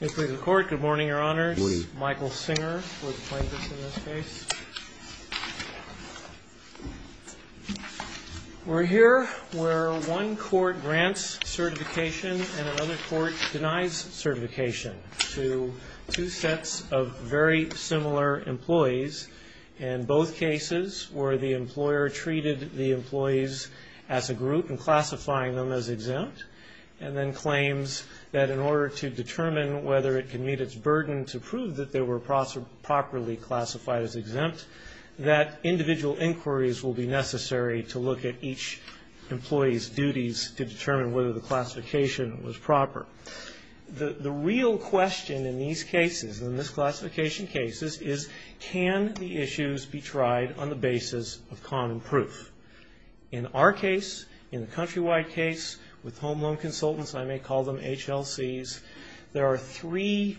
Mr. Speaker of the Court, good morning, Your Honors. Michael Singer for the plaintiffs in this case. We're here where one court grants certification and another court denies certification to two sets of very similar employees. In both cases where the employer treated the employees as a group and classifying them as exempt and then claims that in order to determine whether it can meet its burden to prove that they were properly classified as exempt, that individual inquiries will be necessary to look at each employee's duties to determine whether the classification was proper. The real question in these cases, in this classification cases, is can the issues be tried on the basis of common proof? In our case, in the Countrywide case, with home loan consultants, I may call them HLCs, there are three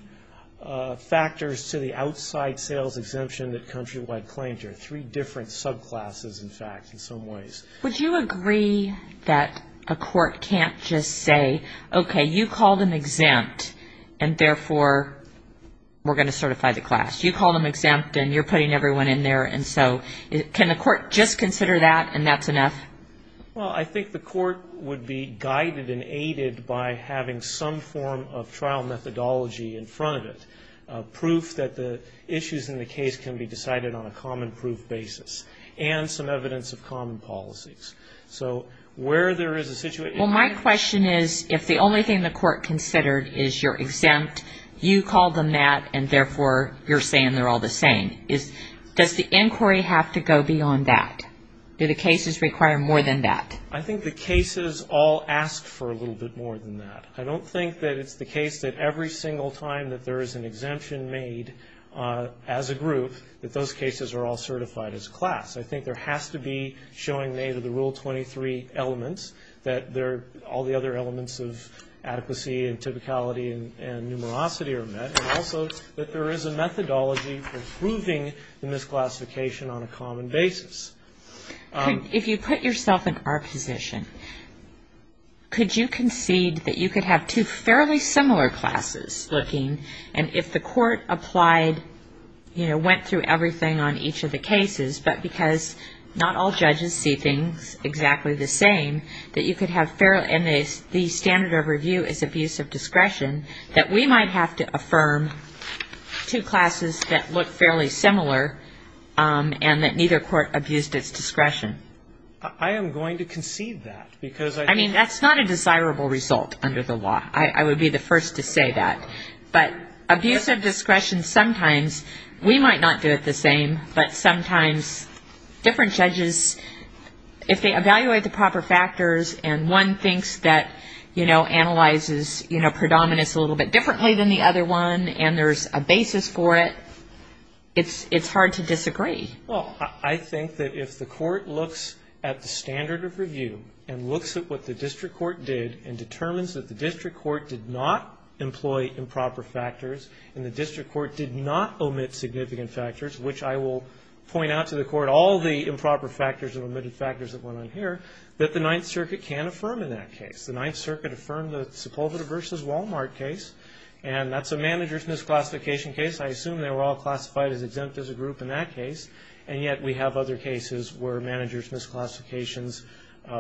factors to the outside sales exemption that Countrywide claims. There are three different subclasses, in fact, in some ways. Would you agree that a court can't just say, okay, you called them exempt and therefore we're going to certify the class. You called them exempt and you're putting everyone in there. And so can the court just consider that and that's enough? Well, I think the court would be guided and aided by having some form of trial methodology in front of it, proof that the issues in the case can be decided on a common proof basis, and some evidence of common policies. So where there is a situation. Well, my question is if the only thing the court considered is you're exempt, you called them that, and therefore you're saying they're all the same. Does the inquiry have to go beyond that? Do the cases require more than that? I think the cases all ask for a little bit more than that. I don't think that it's the case that every single time that there is an exemption made as a group, that those cases are all certified as class. I think there has to be showing they have the Rule 23 elements, that all the other elements of adequacy and typicality and numerosity are met, and also that there is a methodology for proving the misclassification on a common basis. If you put yourself in our position, could you concede that you could have two fairly similar classes looking, and if the court applied, you know, went through everything on each of the cases, but because not all judges see things exactly the same, and the standard of review is abuse of discretion, that we might have to affirm two classes that look fairly similar and that neither court abused its discretion? I am going to concede that. I mean, that's not a desirable result under the law. I would be the first to say that. But abuse of discretion sometimes, we might not do it the same, but sometimes different judges, if they evaluate the proper factors and one thinks that, you know, analyzes, you know, predominance a little bit differently than the other one, and there's a basis for it, it's hard to disagree. Well, I think that if the court looks at the standard of review and looks at what the district court did and determines that the district court did not employ improper factors and the district court did not omit significant factors, which I will point out to the court, all the improper factors and omitted factors that went on here, that the Ninth Circuit can affirm in that case. The Ninth Circuit affirmed the Sepulveda v. Walmart case, and that's a manager's misclassification case. I assume they were all classified as exempt as a group in that case, and yet we have other cases where manager's misclassifications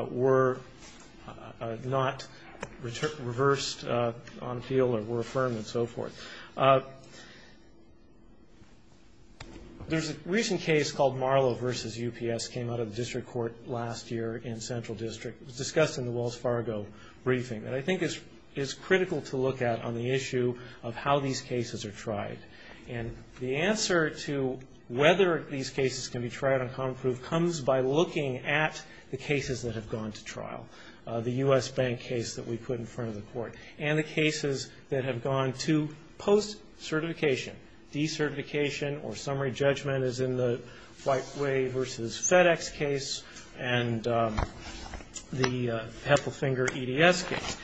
were not reversed on appeal or were affirmed and so forth. There's a recent case called Marlowe v. UPS, came out of the district court last year in Central District. It was discussed in the Wells Fargo briefing that I think is critical to look at on the issue of how these cases are tried. And the answer to whether these cases can be tried on common proof comes by looking at the cases that have gone to trial, the U.S. Bank case that we put in front of the court, and the cases that have gone to post-certification. De-certification or summary judgment is in the Whiteway v. FedEx case and the Pepplefinger EDS case.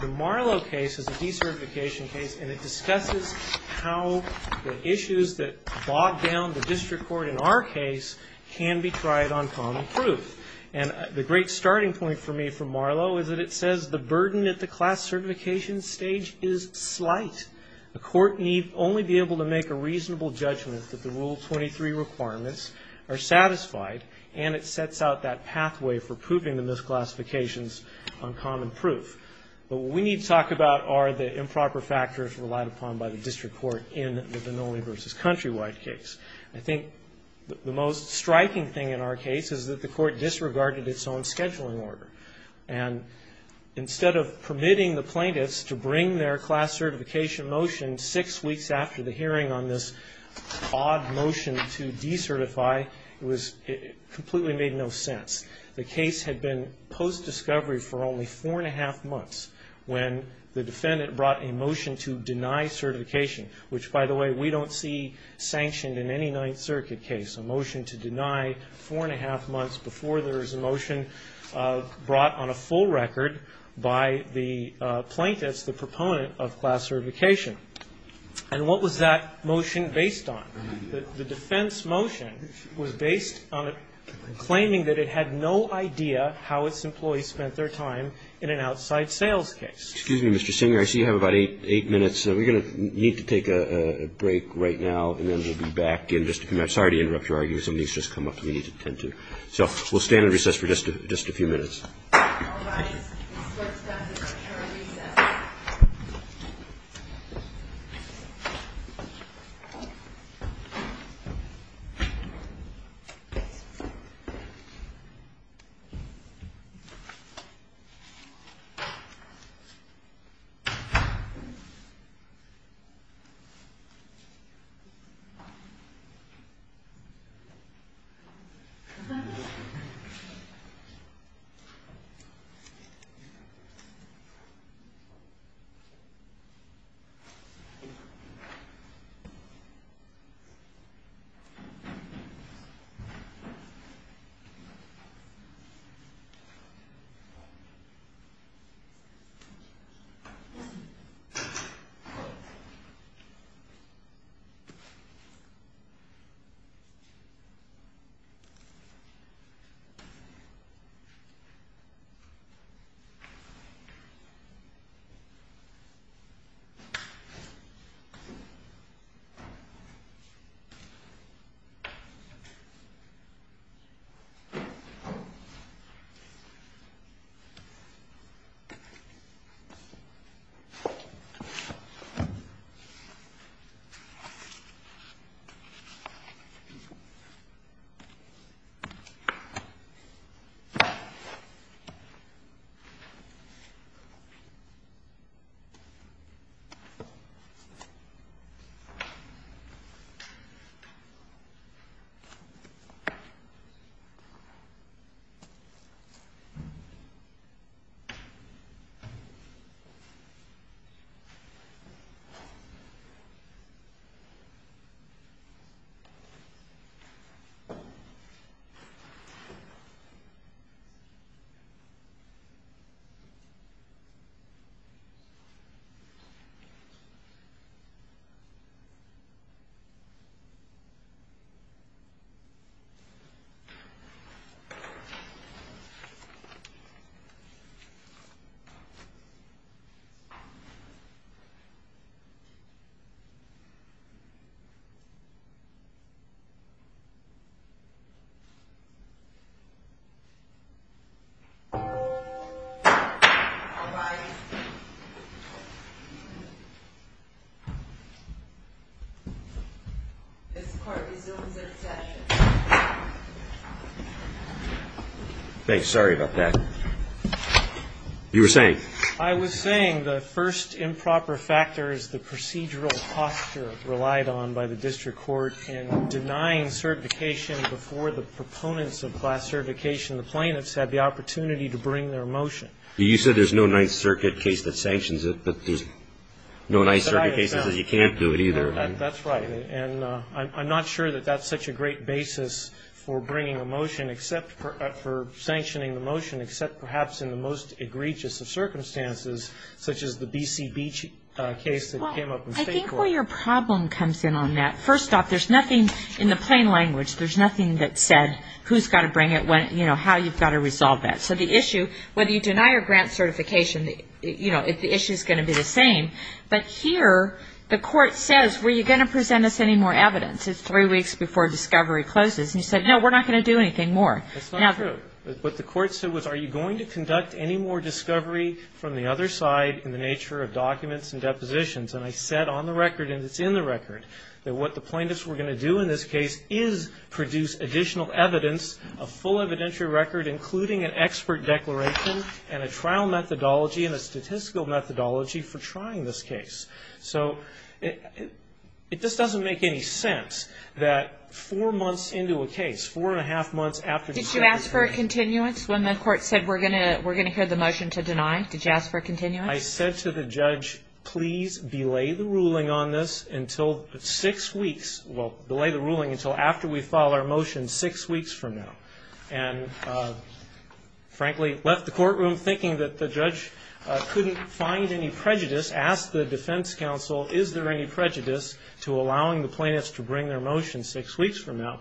The Marlowe case is a de-certification case, and it discusses how the issues that bogged down the district court in our case can be tried on common proof. And the great starting point for me from Marlowe is that it says the burden at the class certification stage is slight. The court need only be able to make a reasonable judgment that the Rule 23 requirements are satisfied, and it sets out that pathway for proving the misclassifications on common proof. But what we need to talk about are the improper factors relied upon by the district court in the Vannoli v. Countrywide case. I think the most striking thing in our case is that the court disregarded its own scheduling order. And instead of permitting the plaintiffs to bring their class certification motion six weeks after the hearing on this odd motion to de-certify, it completely made no sense. The case had been post-discovery for only four and a half months when the defendant brought a motion to deny certification, which, by the way, we don't see sanctioned in any Ninth Circuit case, a motion to deny four and a half months before there is a motion brought on a full record by the plaintiffs, the proponent of class certification. And what was that motion based on? The defense motion was based on claiming that it had no idea how its employees spent their time in an outside sales case. Excuse me, Mr. Singer. I see you have about eight minutes. We're going to need to take a break right now, and then we'll be back in just a few minutes. Sorry to interrupt your argument. Somebody's just come up that we need to attend to. So we'll stand in recess for just a few minutes. All rise. This court is now in recess. Thank you. Thank you. Thank you. Thank you. All rise. This court resumes its session. Thanks. Sorry about that. You were saying? I was saying the first improper factor is the procedural posture relied on by the district court in denying certification before the proponents of class certification. The plaintiffs have the opportunity to bring their motion. You said there's no Ninth Circuit case that sanctions it, but there's no Ninth Circuit case that says you can't do it either. That's right. And I'm not sure that that's such a great basis for bringing a motion except for sanctioning the motion, except perhaps in the most egregious of circumstances, such as the B.C. Beach case that came up in state court. I think where your problem comes in on that, first off, there's nothing in the plain language, there's nothing that said who's got to bring it, how you've got to resolve that. So the issue, whether you deny or grant certification, the issue is going to be the same. But here the court says, were you going to present us any more evidence? It's three weeks before discovery closes. And you said, no, we're not going to do anything more. That's not true. What the court said was, are you going to conduct any more discovery from the other side in the nature of documents and depositions? And I said on the record, and it's in the record, that what the plaintiffs were going to do in this case is produce additional evidence, a full evidentiary record including an expert declaration and a trial methodology and a statistical methodology for trying this case. So it just doesn't make any sense that four months into a case, four and a half months after discovery. Did you ask for a continuance when the court said we're going to hear the motion to deny? Did you ask for a continuance? I said to the judge, please belay the ruling on this until six weeks. Well, belay the ruling until after we file our motion six weeks from now. And frankly, left the courtroom thinking that the judge couldn't find any prejudice, asked the defense counsel, is there any prejudice to allowing the plaintiffs to bring their motion six weeks from now?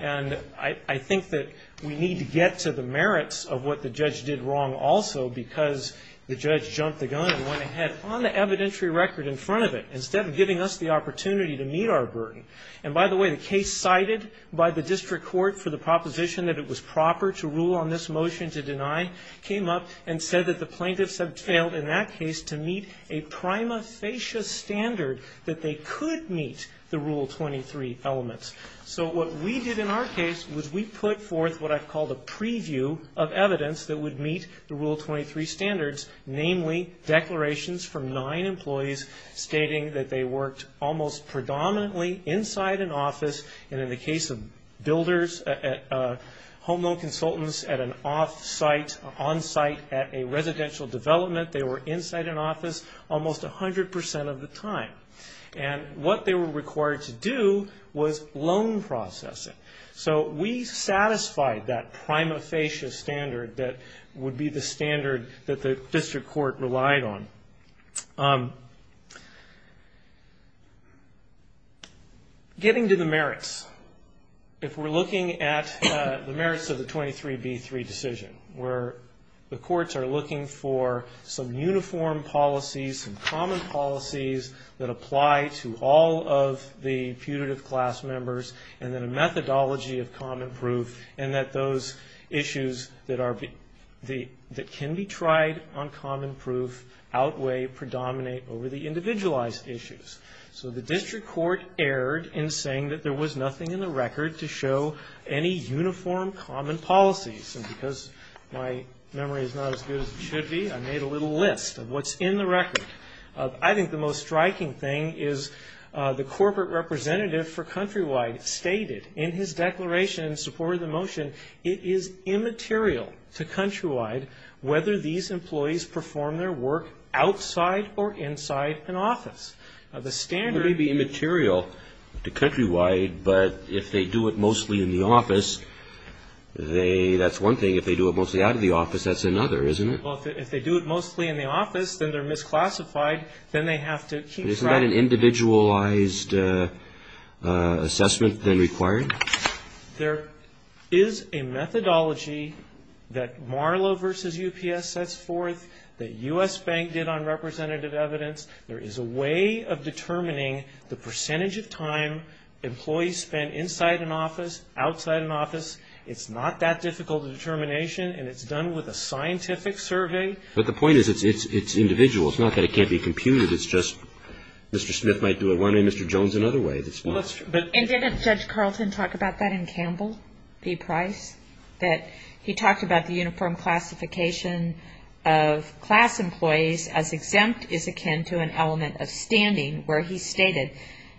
And I think that we need to get to the merits of what the judge did wrong also because the judge jumped the gun and went ahead on the evidentiary record in front of it instead of giving us the opportunity to meet our burden. And by the way, the case cited by the district court for the proposition that it was proper to rule on this motion to deny came up and said that the plaintiffs had failed in that case to meet a prima facie standard that they could meet the Rule 23 elements. So what we did in our case was we put forth what I've called a preview of evidence that would meet the Rule 23 standards, namely declarations from nine employees stating that they worked almost predominantly inside an office. And in the case of builders, home loan consultants at an off-site, on-site, at a residential development, they were inside an office almost 100 percent of the time. And what they were required to do was loan processing. So we satisfied that prima facie standard that would be the standard that the district court relied on. Getting to the merits, if we're looking at the merits of the 23B3 decision where the courts are looking for some uniform policies, some common policies that apply to all of the putative class members and then a methodology of common proof and that those issues that can be tried on common proof outweigh, predominate over the individualized issues. So the district court erred in saying that there was nothing in the record to show any uniform common policies and because my memory is not as good as it should be, I made a little list of what's in the record. I think the most striking thing is the corporate representative for Countrywide stated in his declaration in support of the motion it is immaterial to Countrywide whether these employees perform their work outside or inside an office. It may be immaterial to Countrywide, but if they do it mostly in the office, that's one thing. If they do it mostly out of the office, that's another, isn't it? Well, if they do it mostly in the office, then they're misclassified. Then they have to keep trying. Isn't that an individualized assessment then required? There is a methodology that Marlow v. UPS sets forth, that U.S. Bank did on representative evidence. There is a way of determining the percentage of time employees spend inside an office, outside an office. It's not that difficult a determination, and it's done with a scientific survey. But the point is it's individual. It's not that it can't be computed. It's just Mr. Smith might do it one way, Mr. Jones another way. And didn't Judge Carlton talk about that in Campbell v. Price? That he talked about the uniform classification of class employees as exempt is akin to an element of standing where he stated,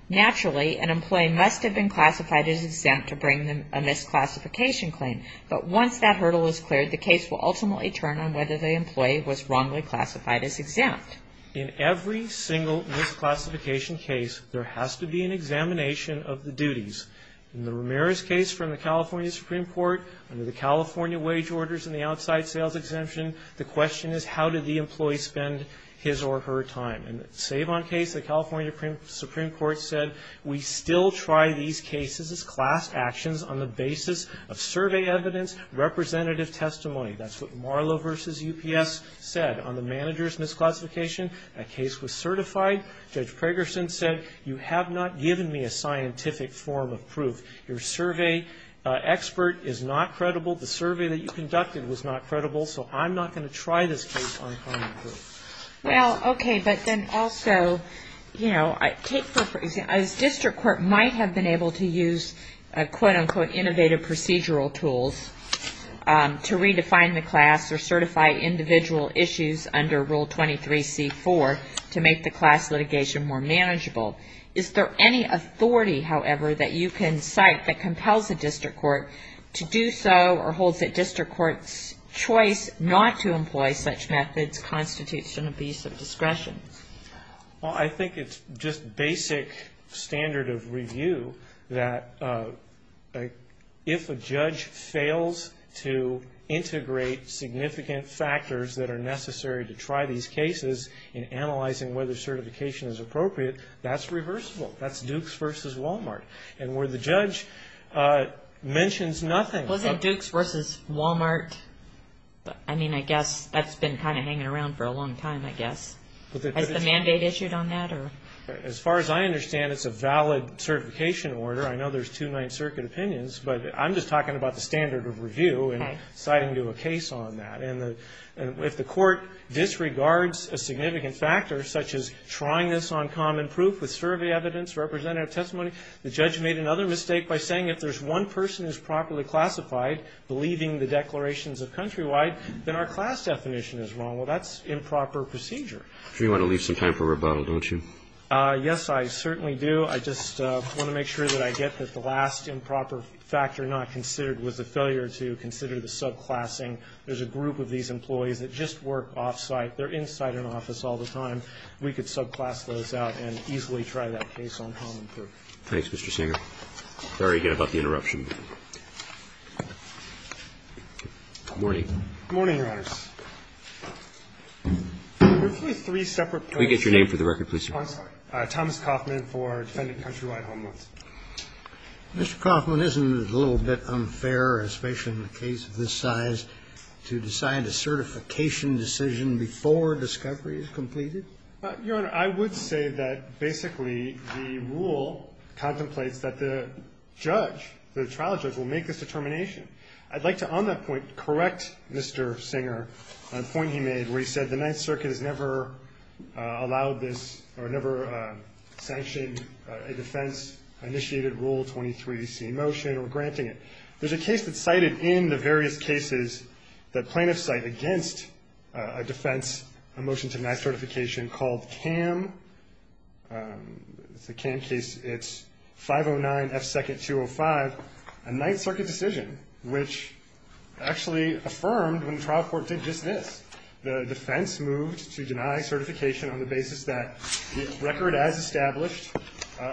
naturally, an employee must have been classified as exempt to bring a misclassification claim. But once that hurdle is cleared, the case will ultimately turn on whether the employee was wrongly classified as exempt. In every single misclassification case, there has to be an examination of the duties. In the Ramirez case from the California Supreme Court, under the California wage orders and the outside sales exemption, the question is how did the employee spend his or her time? In the Savon case, the California Supreme Court said, we still try these cases as class actions on the basis of survey evidence, representative testimony. That's what Marlow v. UPS said. On the manager's misclassification, that case was certified. Judge Pragerson said, you have not given me a scientific form of proof. Your survey expert is not credible. The survey that you conducted was not credible. So I'm not going to try this case on common proof. Well, okay. But then also, you know, take for example, a district court might have been able to use quote, unquote, innovative procedural tools to redefine the class or certify individual issues under Rule 23-C-4 to make the class litigation more manageable. Is there any authority, however, that you can cite that compels a district court to do so or holds that district courts' choice not to employ such methods constitutes an abuse of discretion? Well, I think it's just basic standard of review that if a judge fails to integrate significant factors that are necessary to try these cases in analyzing whether certification is appropriate, that's reversible. That's Dukes v. Walmart. And where the judge mentions nothing. Was it Dukes v. Walmart? I mean, I guess that's been kind of hanging around for a long time, I guess. Has the mandate issued on that? As far as I understand, it's a valid certification order. I know there's two Ninth Circuit opinions. But I'm just talking about the standard of review and citing to a case on that. And if the court disregards a significant factor, such as trying this on common proof with survey evidence, representative testimony, the judge made another mistake by saying if there's one person who's properly classified, believing the declarations of countrywide, then our class definition is wrong. Well, that's improper procedure. So you want to leave some time for rebuttal, don't you? Yes, I certainly do. I just want to make sure that I get that the last improper factor not considered was the failure to consider the subclassing. There's a group of these employees that just work off-site. They're inside an office all the time. So we could subclass those out and easily try that case on common proof. Thanks, Mr. Singer. Sorry again about the interruption. Good morning. Good morning, Your Honors. Briefly three separate points. Can we get your name for the record, please, sir? Thomas Coffman for Defending Countrywide Homeless. Mr. Coffman, isn't it a little bit unfair, especially in a case of this size, to decide a certification decision before discovery is completed? Your Honor, I would say that basically the rule contemplates that the judge, the trial judge, will make this determination. I'd like to on that point correct Mr. Singer on a point he made where he said the Ninth Circuit has never allowed this or never sanctioned a defense-initiated Rule 23C motion or granting it. There's a case that's cited in the various cases that plaintiffs cite against a defense, a motion to deny certification called CAM. It's a CAM case. It's 509F2205, a Ninth Circuit decision, which actually affirmed when the trial court did just this. The defense moved to deny certification on the basis that the record as established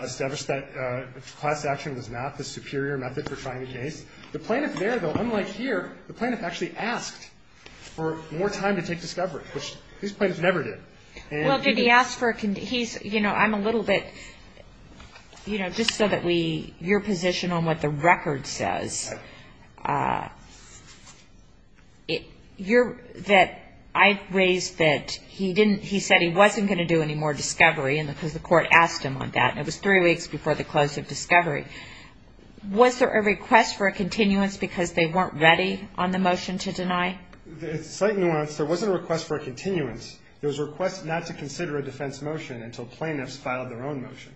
established that class action was not the superior method for trying the case. The plaintiff there, though, unlike here, the plaintiff actually asked for more time to take discovery, which these plaintiffs never did. And he did. Well, did he ask for a condition? He's, you know, I'm a little bit, you know, just so that we, your position on what the record says, that I raised that he didn't, he said he wasn't going to do any more discovery because the court asked him on that. It was three weeks before the close of discovery. Was there a request for a continuance because they weren't ready on the motion to deny? It's a slight nuance. There wasn't a request for a continuance. There was a request not to consider a defense motion until plaintiffs filed their own motion.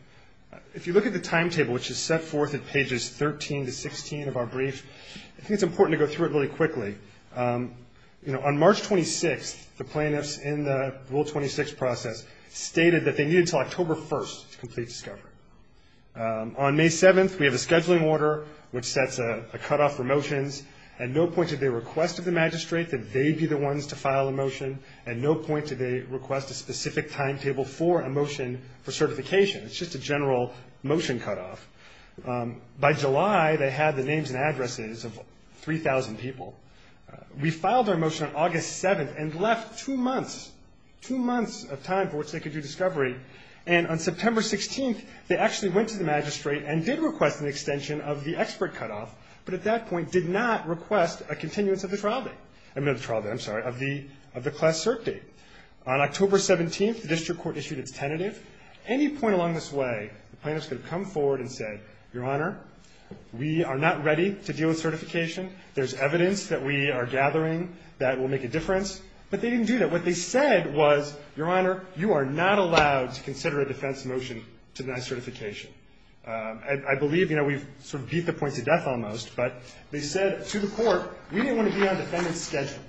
If you look at the timetable, which is set forth at pages 13 to 16 of our brief, I think it's important to go through it really quickly. You know, on March 26th, the plaintiffs in the Rule 26 process stated that they needed until October 1st to complete discovery. On May 7th, we have a scheduling order, which sets a cutoff for motions. At no point did they request of the magistrate that they be the ones to file a motion. At no point did they request a specific timetable for a motion for certification. It's just a general motion cutoff. By July, they had the names and addresses of 3,000 people. We filed our motion on August 7th and left two months, two months of time for which they could do discovery. And on September 16th, they actually went to the magistrate and did request an extension of the expert cutoff, but at that point did not request a continuance of the trial date. I mean of the trial date, I'm sorry, of the class cert date. On October 17th, the district court issued its tentative. At any point along this way, the plaintiffs could have come forward and said, Your Honor, we are not ready to deal with certification. There's evidence that we are gathering that will make a difference. But they didn't do that. What they said was, Your Honor, you are not allowed to consider a defense motion to deny certification. I believe, you know, we've sort of beat the point to death almost, but they said to the court, we didn't want to be on defendant's schedule.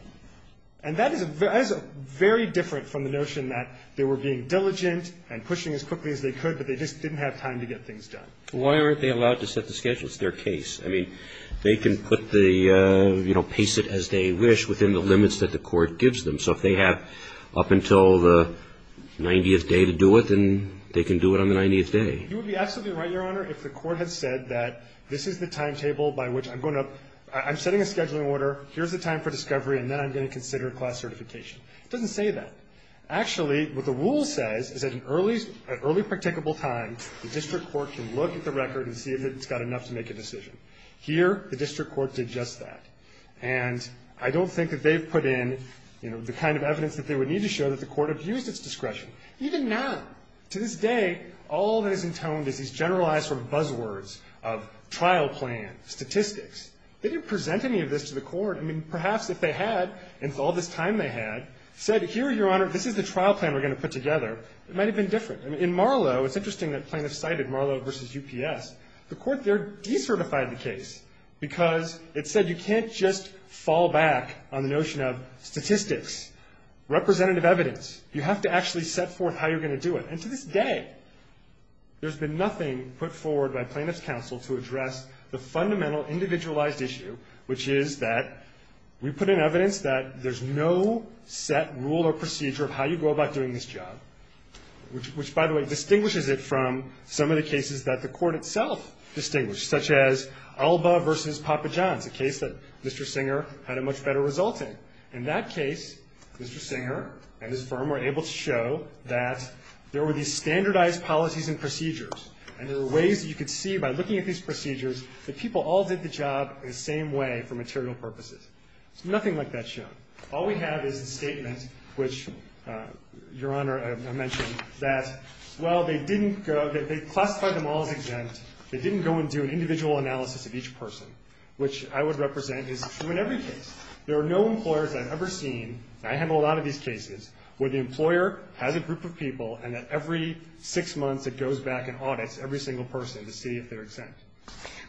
And that is very different from the notion that they were being diligent and pushing as quickly as they could, but they just didn't have time to get things done. Why aren't they allowed to set the schedule? It's their case. I mean, they can put the, you know, pace it as they wish within the limits that the court gives them. So if they have up until the 90th day to do it, then they can do it on the 90th day. You would be absolutely right, Your Honor, if the court had said that this is the timetable by which I'm going to you know, I'm setting a scheduling order, here's the time for discovery, and then I'm going to consider class certification. It doesn't say that. Actually, what the rule says is that at an early practicable time, the district court can look at the record and see if it's got enough to make a decision. Here, the district court did just that. And I don't think that they've put in, you know, the kind of evidence that they would need to show that the court abused its discretion. Even now, to this day, all that is intoned is these generalized sort of buzzwords of trial plan, statistics. They didn't present any of this to the court. I mean, perhaps if they had, in all this time they had, said here, Your Honor, this is the trial plan we're going to put together, it might have been different. In Marlow, it's interesting that plaintiffs cited Marlow v. UPS. The court there decertified the case because it said you can't just fall back on the notion of statistics, representative evidence. You have to actually set forth how you're going to do it. And to this day, there's been nothing put forward by plaintiffs' counsel to address the fundamental individualized issue, which is that we put in evidence that there's no set rule or procedure of how you go about doing this job, which, by the way, distinguishes it from some of the cases that the court itself distinguished, such as Alba v. Papa John's, a case that Mr. Singer had a much better result in. In that case, Mr. Singer and his firm were able to show that there were these standardized policies and procedures, and there were ways that you could see, by looking at these procedures, that people all did the job in the same way for material purposes. There's nothing like that shown. All we have is the statement, which, Your Honor, I mentioned, that, well, they didn't go, they classified them all as exempt. They didn't go and do an individual analysis of each person, which I would represent is true in every case. There are no employers I've ever seen, and I handle a lot of these cases, where the employer has a group of people and that every six months it goes back and audits every single person to see if they're exempt.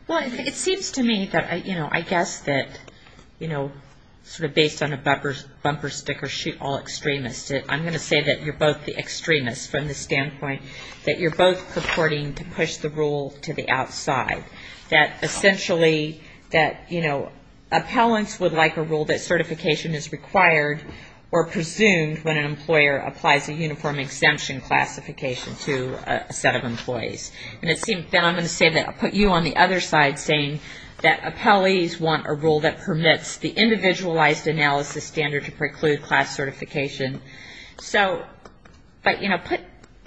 Well, it seems to me that, you know, I guess that, you know, sort of based on a bumper sticker, shoot all extremists, I'm going to say that you're both the extremists from the standpoint that you're both supporting to push the rule to the outside, that essentially that, you know, appellants would like a rule that certification is required or presumed when an employer applies a uniform exemption classification to a set of employees. And it seems then I'm going to say that I'll put you on the other side saying that appellees want a rule that permits the individualized analysis standard to preclude class certification. So, but, you know,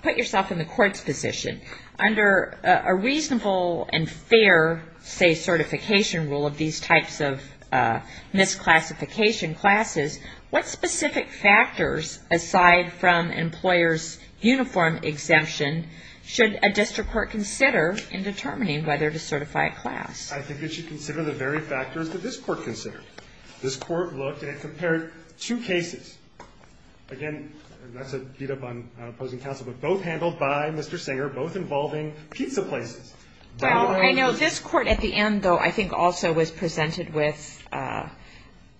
put yourself in the court's position. Under a reasonable and fair, say, certification rule of these types of misclassification classes, what specific factors, aside from employers' uniform exemption, should a district court consider in determining whether to certify a class? I think it should consider the very factors that this court considered. This court looked and it compared two cases. Again, that's a beat-up on opposing counsel, but both handled by Mr. Singer, both involving pizza places. Well, I know this court at the end, though, I think also was presented with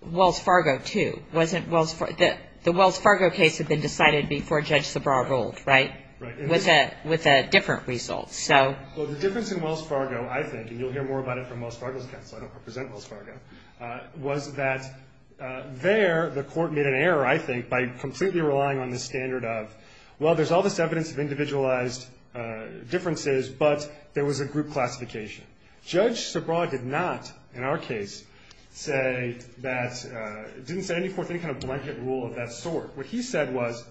Wells Fargo, too. Wasn't Wells Fargo? The Wells Fargo case had been decided before Judge Sabra ruled, right? Right. With a different result, so. Well, the difference in Wells Fargo, I think, and you'll hear more about it from Wells Fargo's counsel, I don't represent Wells Fargo, was that there the court made an error, I think, by completely relying on the standard of, well, there's all this evidence of individualized differences, but there was a group classification. Judge Sabra did not, in our case, say that, didn't set forth any kind of blanket rule of that sort. What he said was,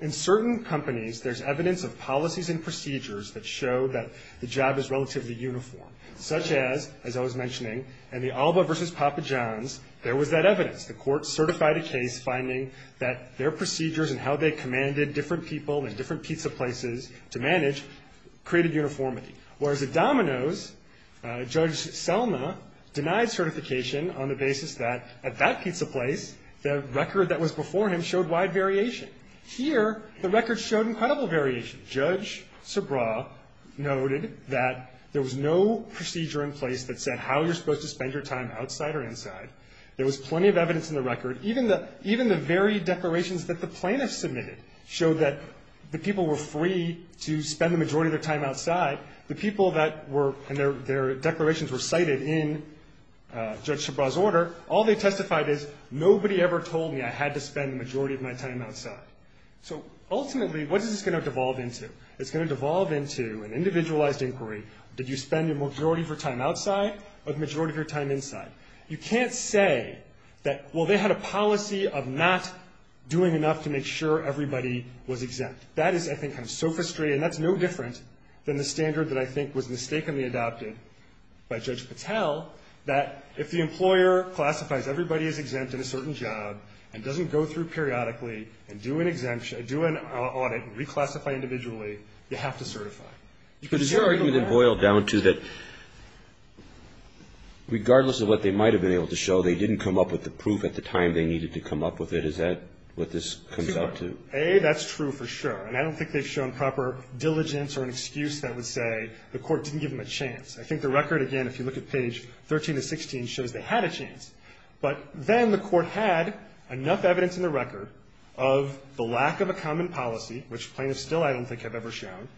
in certain companies, there's evidence of policies and procedures that show that the job is relatively uniform, such as, as I was mentioning, in the Alba v. Papa John's, there was that evidence. The court certified a case finding that their procedures and how they commanded different people in different pizza places to manage created uniformity. Whereas at Domino's, Judge Selma denied certification on the basis that, at that pizza place, the record that was before him showed wide variation. Here, the record showed incredible variation. Judge Sabra noted that there was no procedure in place that said how you're supposed to spend your time outside or inside. There was plenty of evidence in the record. Even the very declarations that the plaintiffs submitted showed that the people were free to spend the majority of their time outside. The people that were, and their declarations were cited in Judge Sabra's order, all they testified is, nobody ever told me I had to spend the majority of my time outside. So ultimately, what is this going to devolve into? It's going to devolve into an individualized inquiry. Did you spend your majority of your time outside or the majority of your time inside? You can't say that, well, they had a policy of not doing enough to make sure everybody was exempt. That is, I think, kind of so frustrating. That's no different than the standard that I think was mistakenly adopted by Judge Patel that if the employer classifies everybody as exempt in a certain job and doesn't go through periodically and do an audit and reclassify individually, you have to certify. But is your argument then boiled down to that regardless of what they might have been able to show, they didn't come up with the proof at the time they needed to come up with it? Is that what this comes down to? A, that's true for sure. And I don't think they've shown proper diligence or an excuse that would say the court didn't give them a chance. I think the record, again, if you look at page 13 to 16, shows they had a chance. But then the court had enough evidence in the record of the lack of a common policy, which plaintiffs still I don't think have ever shown,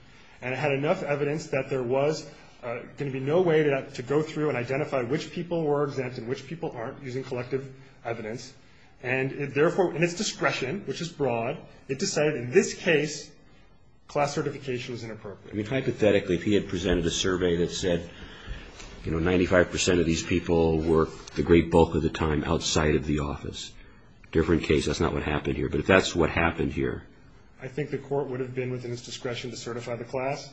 and it had enough evidence that there was going to be no way to go through and identify which people were exempt and which people aren't using collective evidence. And therefore, in its discretion, which is broad, it decided in this case class certification was inappropriate. I mean, hypothetically, if he had presented a survey that said, you know, 95 percent of these people were, the great bulk of the time, outside of the office, different case, that's not what happened here. But if that's what happened here, I think the court would have been within its discretion to certify the class.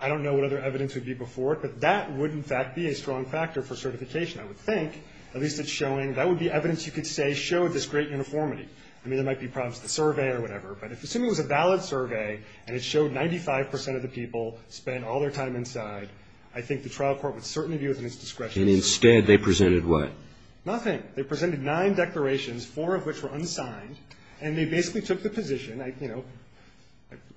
I don't know what other evidence would be before it, but that would in fact be a strong factor for certification, I would think. At least it's showing that would be evidence you could say showed this great uniformity. I mean, there might be problems with the survey or whatever. But if assuming it was a valid survey and it showed 95 percent of the people spent all their time inside, I think the trial court would certainly be within its discretion. And instead they presented what? Nothing. They presented nine declarations, four of which were unsigned. And they basically took the position, you know,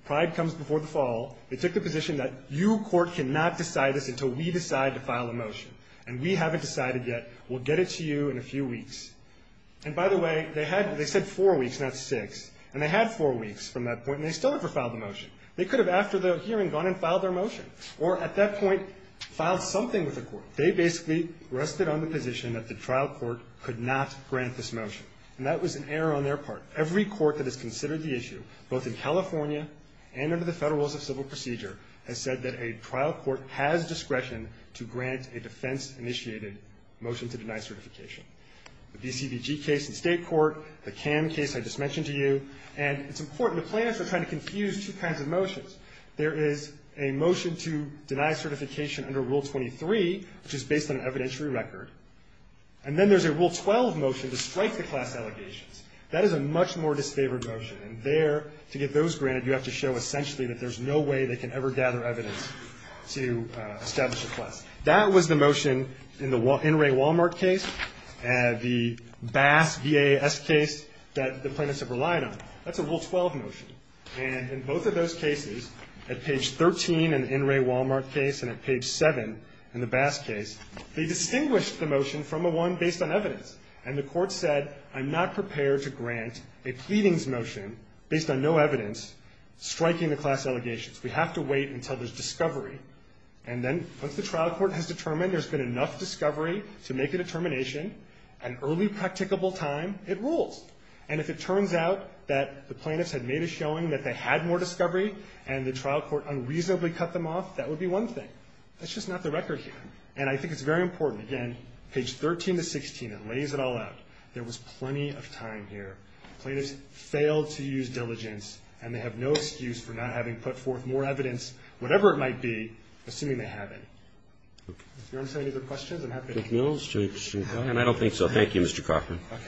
pride comes before the fall. They took the position that you court cannot decide this until we decide to file a motion. And we haven't decided yet. We'll get it to you in a few weeks. And by the way, they said four weeks, not six. And they had four weeks from that point, and they still haven't filed a motion. They could have after the hearing gone and filed their motion or at that point filed something with the court. They basically rested on the position that the trial court could not grant this motion. And that was an error on their part. Every court that has considered the issue, both in California and under the Federal Rules of Civil Procedure, has said that a trial court has discretion to grant a defense-initiated motion to deny certification. The DCVG case in state court, the CAN case I just mentioned to you. And it's important. The plaintiffs are trying to confuse two kinds of motions. There is a motion to deny certification under Rule 23, which is based on an evidentiary record. And then there's a Rule 12 motion to strike the class allegations. That is a much more disfavored motion. And there, to get those granted, you have to show essentially that there's no way they can ever gather evidence to establish a class. That was the motion in the In Re Walmart case, the Bass VAS case that the plaintiffs have relied on. That's a Rule 12 motion. And in both of those cases, at page 13 in the In Re Walmart case and at page 7 in the Bass case, they distinguished the motion from the one based on evidence. And the court said, I'm not prepared to grant a pleadings motion based on no evidence striking the class allegations. We have to wait until there's discovery. And then once the trial court has determined there's been enough discovery to make a determination, at an early practicable time, it rules. And if it turns out that the plaintiffs had made a showing that they had more discovery and the trial court unreasonably cut them off, that would be one thing. That's just not the record here. And I think it's very important. Again, page 13 to 16, it lays it all out. There was plenty of time here. Plaintiffs failed to use diligence, and they have no excuse for not having put forth more evidence, whatever it might be, assuming they haven't. Does anyone have any other questions? I'm happy to take questions. And I don't think so. Thank you, Mr. Cochran. Okay.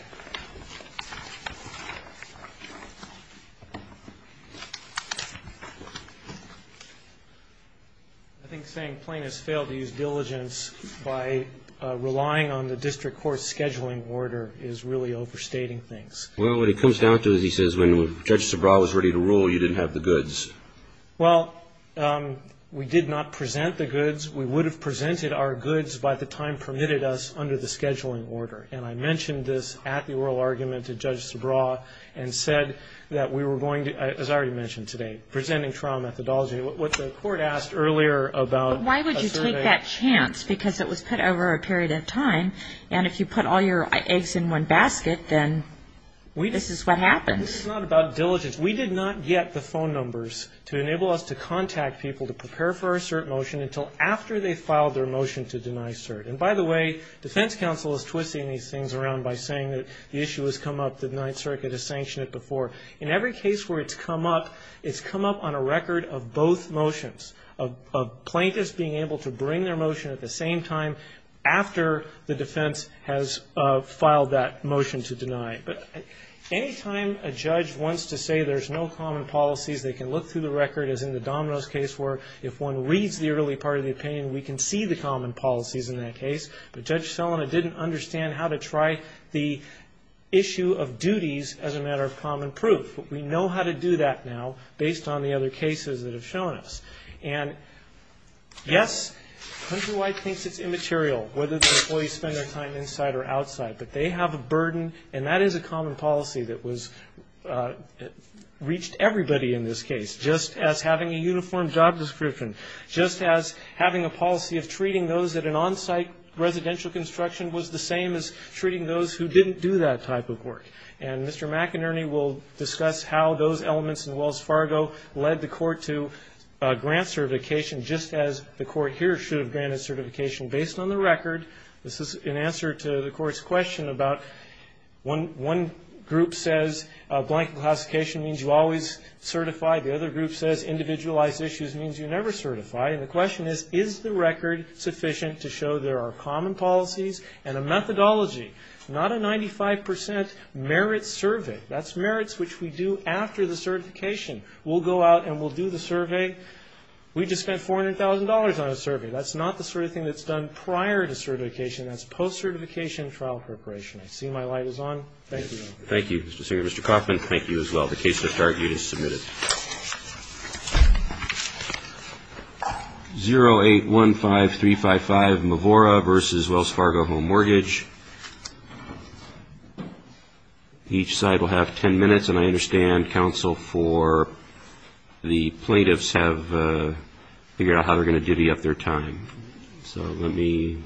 I think saying plaintiffs failed to use diligence by relying on the district court's scheduling order is really overstating things. Well, what it comes down to, as he says, when Judge Sobraw was ready to rule, you didn't have the goods. Well, we did not present the goods. We would have presented our goods by the time permitted us under the scheduling order. And I mentioned this at the oral argument to Judge Sobraw and said that we were going to, as I already mentioned today, presenting trial methodology. What the court asked earlier about a survey. Why would you take that chance? Because it was put over a period of time. And if you put all your eggs in one basket, then this is what happens. This is not about diligence. We did not get the phone numbers to enable us to contact people to prepare for a cert motion until after they filed their motion to deny cert. And by the way, defense counsel is twisting these things around by saying that the issue has come up, the Ninth Circuit has sanctioned it before. In every case where it's come up, it's come up on a record of both motions, of plaintiffs being able to bring their motion at the same time after the defense has filed that motion to deny it. But any time a judge wants to say there's no common policies, they can look through the record, as in the Domino's case where if one reads the early part of the opinion, we can see the common policies in that case. But Judge Selina didn't understand how to try the issue of duties as a matter of common proof. But we know how to do that now based on the other cases that have shown us. And, yes, Countrywide thinks it's immaterial, whether the employees spend their time inside or outside, but they have a burden, and that is a common policy that was reached everybody in this case, just as having a uniform job description, just as having a policy of treating those at an on-site residential construction was the same as treating those who didn't do that type of work. And Mr. McInerney will discuss how those elements in Wells Fargo led the court to grant certification just as the court here should have granted certification based on the record. This is in answer to the court's question about one group says blank classification means you always certify. The other group says individualized issues means you never certify. And the question is, is the record sufficient to show there are common policies and a methodology, not a 95 percent merit survey. That's merits which we do after the certification. We'll go out and we'll do the survey. We just spent $400,000 on a survey. That's not the sort of thing that's done prior to certification. That's post-certification trial preparation. I see my light is on. Thank you. Thank you, Mr. Singer. Mr. Kaufman, thank you as well. The case that's argued is submitted. This is 0815355, Mavora v. Wells Fargo Home Mortgage. Each side will have 10 minutes. And I understand counsel for the plaintiffs have figured out how they're going to divvy up their time. So let me see.